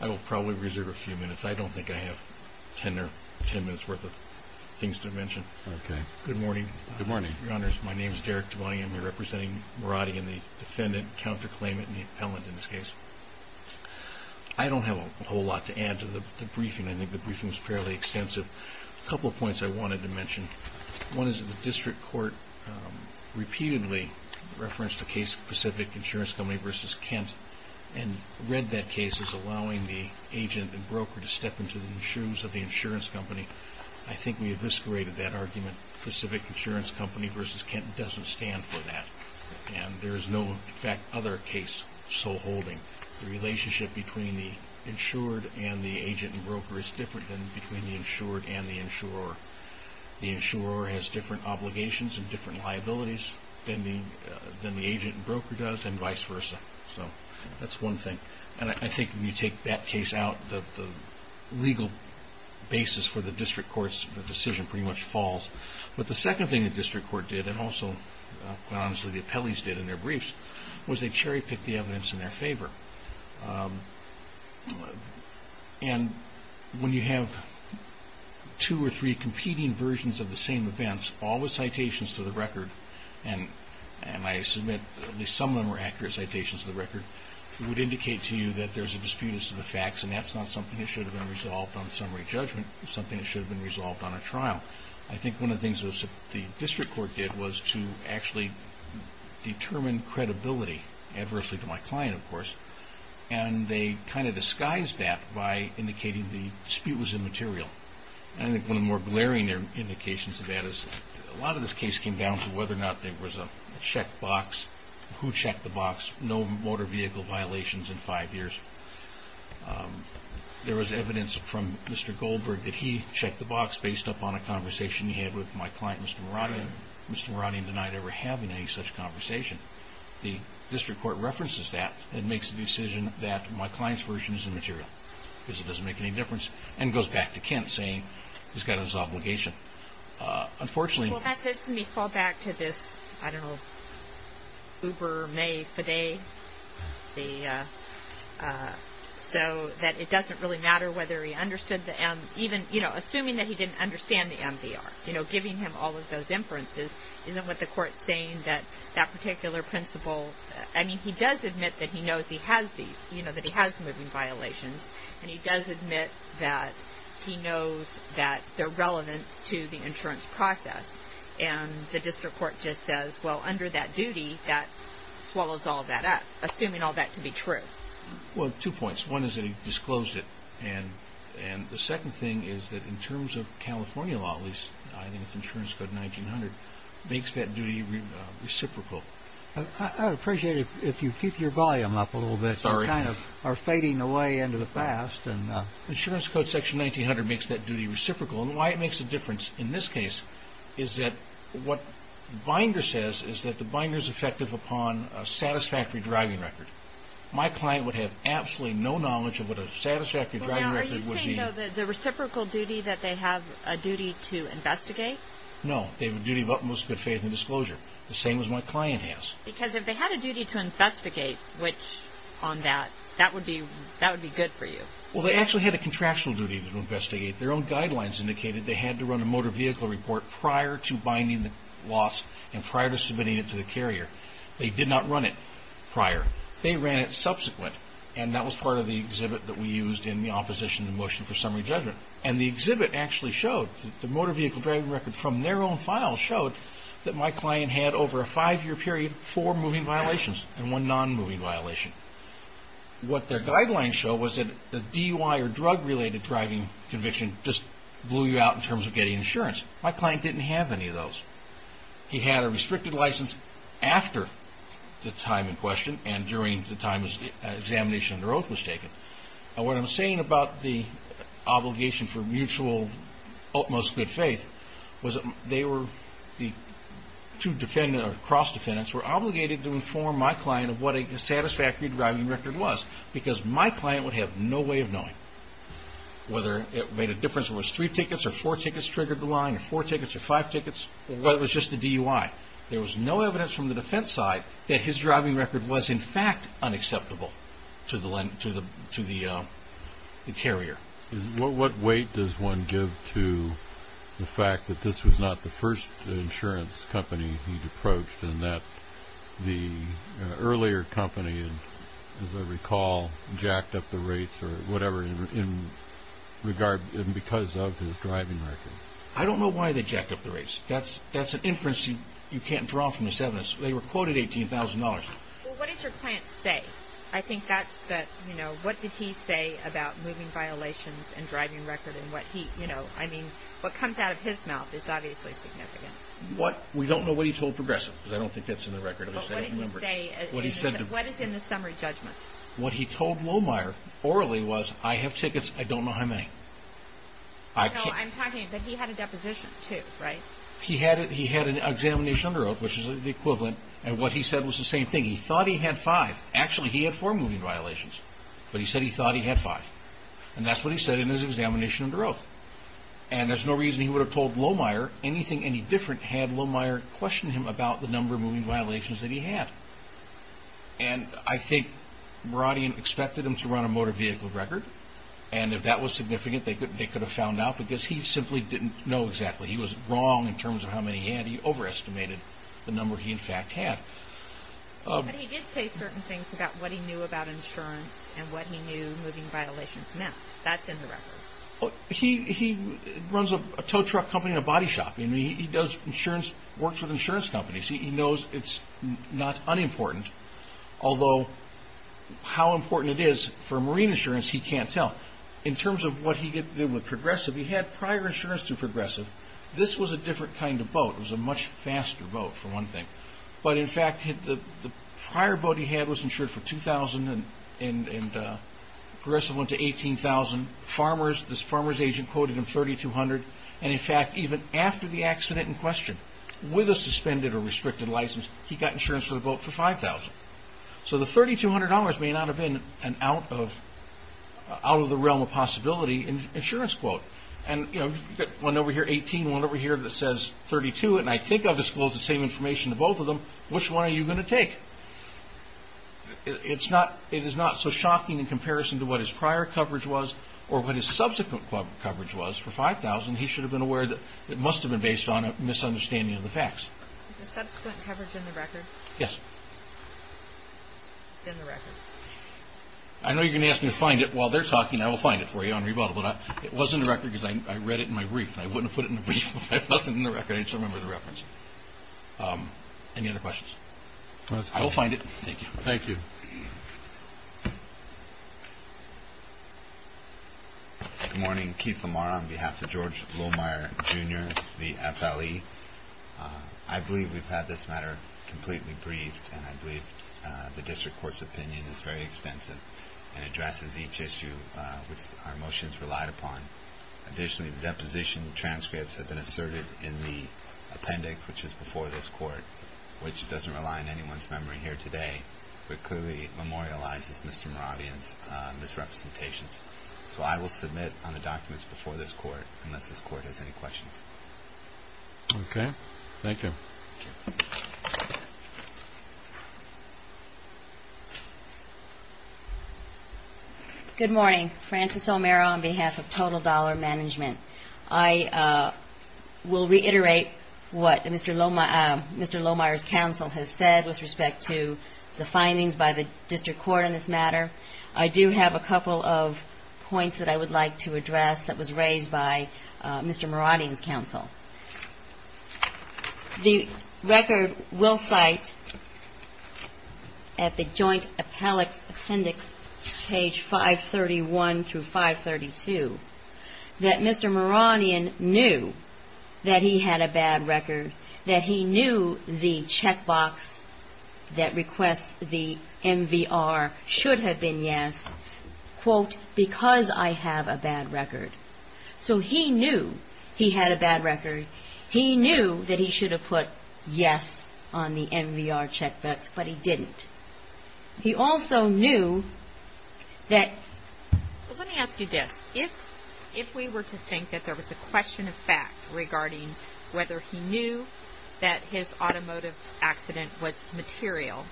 I will probably reserve a few minutes. I don't think I have ten minutes worth of things to mention. Good morning. Good morning. Your Honors, my name is Derek Tavani. I am here representing Muradyan, the defendant, counterclaimant, and the appellant in this case. I don't have a whole lot to add to the briefing. I think the briefing was fairly extensive. A couple of points I wanted to mention. One is that the District Court repeatedly referenced a case specific to Insurance Company v. Kent and read that case as allowing the agent and broker to step into the shoes of the insurance company. I think we have discreted that argument. The Civic Insurance Company v. Kent doesn't stand for that. There is no other case so holding. The relationship between the insured and the agent and broker is different than between the insured and the insurer. The insurer has different obligations and different liabilities than the agent and broker does and vice versa. That is one thing. I think when you take that case out, the legal basis for the District Court's decision pretty much falls. The second thing the District Court did, and also the appellees did in their briefs, was they cherry-picked the evidence in their favor. When you have two or three competing versions of the same events, all with citations to the record, and I submit at least some of them are accurate citations to the record, it would indicate to you that there is a dispute as to the facts and that is not something that should have been resolved on summary judgment. It is something that should have been resolved on a trial. I think one of the things the District Court did was to actually determine credibility, adversely to my client of course, and they kind of disguised that by indicating the dispute was immaterial. I think one of the more glaring indications of that is a lot of this case came down to whether or not there was a checkbox, who checked the box, no motor vehicle violations in five years. There was evidence from Mr. Goldberg that he checked the box based upon a conversation he had with my client, Mr. Marotti, and Mr. Marotti denied ever having any such conversation. The District Court references that and makes the decision that my client's version is immaterial because it doesn't make any difference, and goes back to Kent saying he's got his obligation. Unfortunately... Well, that says to me, fall back to this, I don't know, Uber, May, Fiday, so that it doesn't really matter whether he understood the M, even, you know, assuming that he didn't understand the MVR, you know, giving him all of those inferences, isn't what the court's saying that that particular principle, I mean, he does admit that he knows he has these, you know, that he has moving violations, and he does admit that he knows that they're relevant to the insurance process, and the District Court just says, well, under that duty, that swallows all of that up, assuming all that to be true. Well, two points. One is that he disclosed it, and the second thing is that in terms of California law, at least, I think it's Insurance Code 1900, makes that duty reciprocal. I'd appreciate it if you keep your volume up a little bit. Sorry. You kind of are fading away into the past. Insurance Code 1900 makes that duty reciprocal, and why it makes a difference in this case is that what the binder says is that the binder's effective upon a satisfactory driving record. My client would have absolutely no knowledge of what a satisfactory driving record would be. Are you saying, though, that the reciprocal duty, that they have a duty to investigate? No, they have a duty of utmost good faith and disclosure. The same as my client has. Because if they had a duty to investigate on that, that would be good for you. Well, they actually had a contractual duty to investigate. Their own guidelines indicated they had to run a motor vehicle report prior to binding the loss and prior to submitting it to the carrier. They did not run it prior. They ran it subsequent, and that was part of the exhibit that we used in the Opposition to Motion for Summary Judgment. And the exhibit actually showed, the motor vehicle driving record from their own file showed that my client had, over a five-year period, four moving violations and one non-moving violation. What their guidelines show was that the DUI or drug-related driving conviction just blew you out in terms of getting insurance. My client didn't have any of those. He had a restricted license after the time in question and during the time the examination under oath was taken. And what I'm saying about the obligation for mutual, utmost good faith, was that the two defendants or cross-defendants were obligated to inform my client of what a satisfactory driving record was because my client would have no way of knowing whether it made a difference if it was three tickets or four tickets triggered the line or four tickets or five tickets or whether it was just the DUI. There was no evidence from the defense side that his driving record was, in fact, unacceptable to the carrier. What weight does one give to the fact that this was not the first insurance company he'd approached and that the earlier company, as I recall, jacked up the rates or whatever because of his driving record? I don't know why they jacked up the rates. That's an inference you can't draw from this evidence. They were quoted $18,000. Well, what did your client say? I think that's the, you know, what did he say about moving violations and driving record and what he, you know, I mean, what comes out of his mouth is obviously significant. We don't know what he told Progressive because I don't think that's in the record. But what did he say? What he said. What is in the summary judgment? What he told Lohmeyer orally was, I have tickets. I don't know how many. No, I'm talking, but he had a deposition, too, right? He had an examination under oath, which is the equivalent. And what he said was the same thing. He thought he had five. Actually, he had four moving violations, but he said he thought he had five. And that's what he said in his examination under oath. And there's no reason he would have told Lohmeyer anything any different had Lohmeyer questioned him about the number of moving violations that he had. And I think Meradian expected him to run a motor vehicle record. And if that was significant, they could have found out because he simply didn't know exactly. He was wrong in terms of how many he had. He overestimated the number he, in fact, had. But he did say certain things about what he knew about insurance and what he knew moving violations meant. That's in the record. He runs a tow truck company and a body shop. He does insurance, works with insurance companies. He knows it's not unimportant, although how important it is for marine insurance, he can't tell. In terms of what he did with Progressive, he had prior insurance through Progressive. This was a different kind of boat. It was a much faster boat, for one thing. But in fact, the prior boat he had was insured for $2,000 and Progressive went to $18,000. This farmer's agent quoted him $3,200. And in fact, even after the accident in question, with a suspended or restricted license, he got insurance for the boat for $5,000. So the $3,200 may not have been an out of the realm of possibility insurance quote. And you've got one over here, $18,000, one over here that says $32,000, and I think I've disclosed the same information to both of them. Which one are you going to take? It is not so shocking in comparison to what his prior coverage was or what his subsequent coverage was for $5,000. He should have been aware that it must have been based on a misunderstanding of the facts. Is the subsequent coverage in the record? Yes. It's in the record. I know you're going to ask me to find it while they're talking. I will find it for you on rebuttal. It was in the record because I read it in my brief, and I wouldn't have put it in the brief if it wasn't in the record. I just remember the reference. Any other questions? I will find it. Thank you. Thank you. Good morning. Keith Lamar on behalf of George Lohmeyer, Jr., the FLE. I believe we've had this matter completely briefed, and I believe the district court's opinion is very extensive and addresses each issue which our motions relied upon. Additionally, the deposition transcripts have been asserted in the appendix, which is before this court, which doesn't rely on anyone's memory here today, but clearly memorializes Mr. Moravia's misrepresentations. So I will submit on the documents before this court unless this court has any questions. Okay. Thank you. Thank you. Good morning. Frances O'Meara on behalf of Total Dollar Management. I will reiterate what Mr. Lohmeyer's counsel has said with respect to the findings by the district court on this matter. I do have a couple of points that I would like to address that was raised by Mr. Moravia's counsel. The record will cite at the joint appellate appendix, page 531 through 532, that Mr. Moravian knew that he had a bad record, that he knew the checkbox that requests the MVR should have been yes, quote, because I have a bad record. So he knew he had a bad record. He knew that he should have put yes on the MVR checkbox, but he didn't. He also knew that – Well, let me ask you this. If we were to think that there was a question of fact regarding whether he knew that his automotive accident was material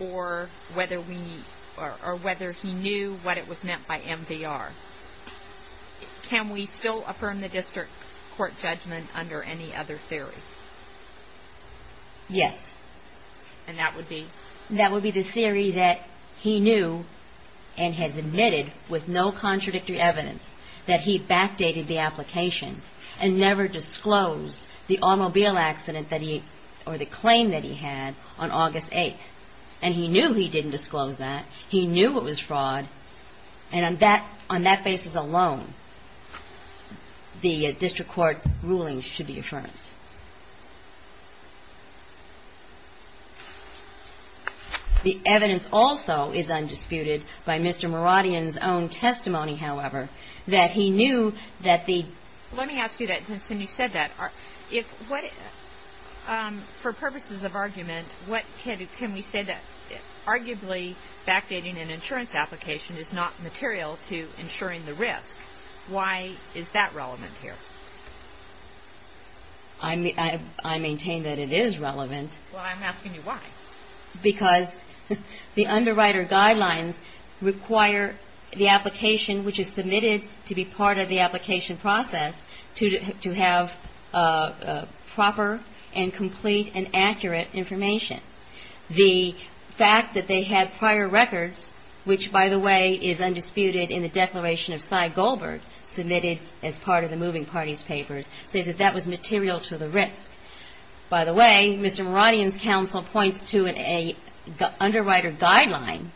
or whether he knew what it was meant by MVR, can we still affirm the district court judgment under any other theory? Yes. And that would be? That would be the theory that he knew and has admitted with no contradictory evidence that he backdated the application and never disclosed the automobile accident that he – or the claim that he had on August 8th. And he knew he didn't disclose that. He knew it was fraud. And on that basis alone, the district court's rulings should be affirmed. The evidence also is undisputed by Mr. Moravian's own testimony, however, that he knew that the – Let me ask you that since you said that. For purposes of argument, can we say that arguably backdating an insurance application is not material to insuring the risk? Why is that relevant here? I maintain that it is relevant. Well, I'm asking you why. Because the underwriter guidelines require the application, which is submitted to be part of the application process, to have proper and complete and accurate information. The fact that they had prior records, which, by the way, is undisputed in the declaration of Cy Goldberg, submitted as part of the moving parties papers, say that that was material to the risk. By the way, Mr. Moravian's counsel points to an underwriter guideline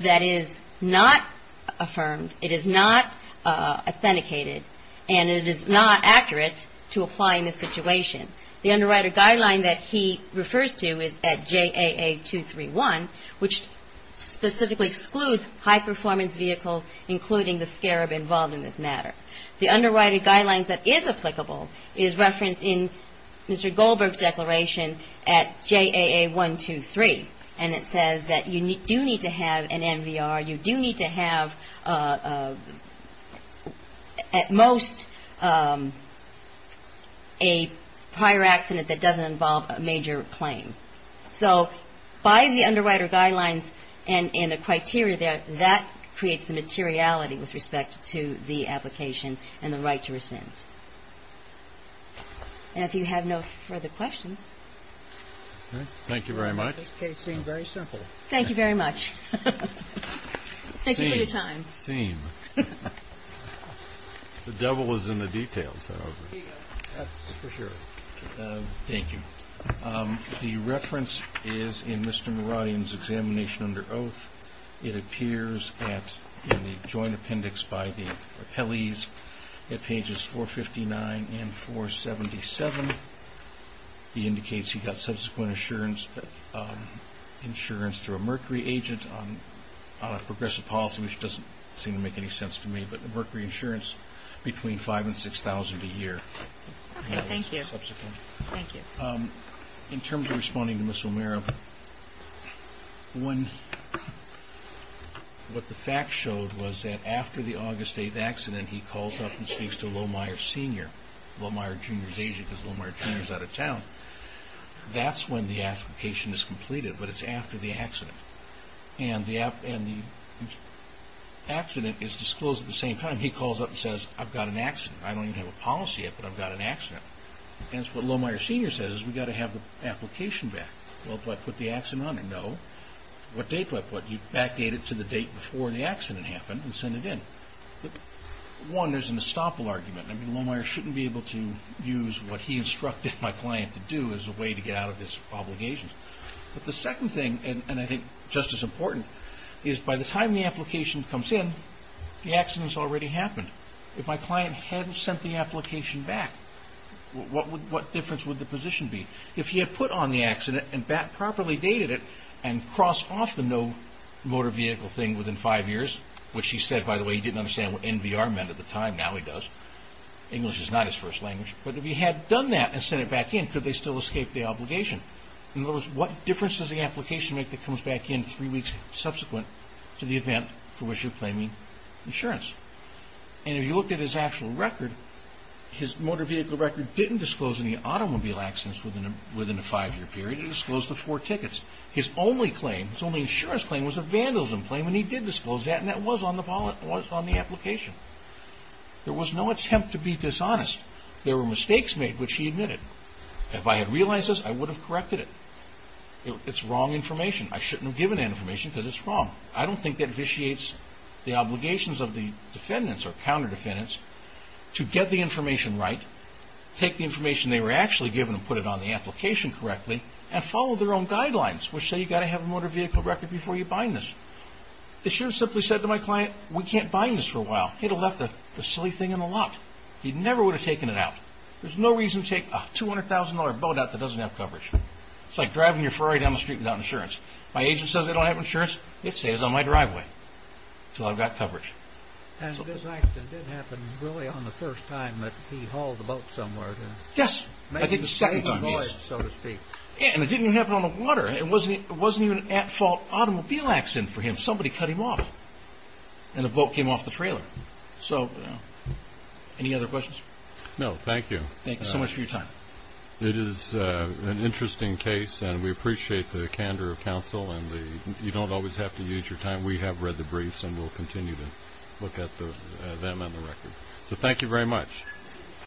that is not affirmed, it is not authenticated, and it is not accurate to apply in this situation. The underwriter guideline that he refers to is at JAA231, which specifically excludes high-performance vehicles, including the scarab involved in this matter. The underwriter guidelines that is applicable is referenced in Mr. Goldberg's declaration at JAA123, and it says that you do need to have an NVR, you do need to have at most a prior accident that doesn't involve a major claim. So by the underwriter guidelines and the criteria there, that creates the materiality with respect to the application and the right to rescind. And if you have no further questions. Thank you very much. That case seemed very simple. Thank you very much. Thank you for your time. Seem. The devil is in the details, however. That's for sure. Thank you. The reference is in Mr. Meradian's examination under oath. It appears in the joint appendix by the appellees at pages 459 and 477. He indicates he got subsequent insurance through a mercury agent on a progressive policy, which doesn't seem to make any sense to me, but mercury insurance between 5,000 and 6,000 a year. Okay. Thank you. In terms of responding to Ms. O'Meara, what the facts showed was that after the August 8th accident, he calls up and speaks to Lohmeyer Sr., Lohmeyer Jr.'s agent, because Lohmeyer Jr. is out of town. That's when the application is completed, but it's after the accident. And the accident is disclosed at the same time. He calls up and says, I've got an accident. I don't even have a policy yet, but I've got an accident. And what Lohmeyer Sr. says is we've got to have the application back. Well, do I put the accident on it? No. What date do I put it? You backdate it to the date before the accident happened and send it in. One, there's an estoppel argument. Lohmeyer shouldn't be able to use what he instructed my client to do as a way to get out of this obligation. But the second thing, and I think just as important, is by the time the application comes in, the accident's already happened. If my client hadn't sent the application back, what difference would the position be? If he had put on the accident and properly dated it and crossed off the no motor vehicle thing within five years, which he said, by the way, he didn't understand what NVR meant at the time. Now he does. English is not his first language. But if he had done that and sent it back in, could they still escape the obligation? In other words, what difference does the application make that comes back in three weeks subsequent to the event for which you're claiming insurance? And if you look at his actual record, his motor vehicle record didn't disclose any automobile accidents within a five-year period. It disclosed the four tickets. His only insurance claim was a vandalism claim, and he did disclose that, and that was on the application. There was no attempt to be dishonest. There were mistakes made, which he admitted. If I had realized this, I would have corrected it. It's wrong information. I shouldn't have given that information because it's wrong. I don't think that vitiates the obligations of the defendants or counter-defendants to get the information right, take the information they were actually given and put it on the application correctly, and follow their own guidelines, which say you've got to have a motor vehicle record before you bind this. They should have simply said to my client, we can't bind this for a while. He'd have left the silly thing in the lot. He never would have taken it out. There's no reason to take a $200,000 boat out that doesn't have coverage. It's like driving your Ferrari down the street without insurance. My agent says I don't have insurance. It stays on my driveway until I've got coverage. This accident did happen really on the first time that he hauled the boat somewhere? Yes, I think the second time. It didn't even happen on the water. It wasn't even an at-fault automobile accident for him. Somebody cut him off, and the boat came off the trailer. Any other questions? No, thank you. Thank you so much for your time. It is an interesting case, and we appreciate the candor of counsel. You don't always have to use your time. We have read the briefs, and we'll continue to look at them and the record. So thank you very much.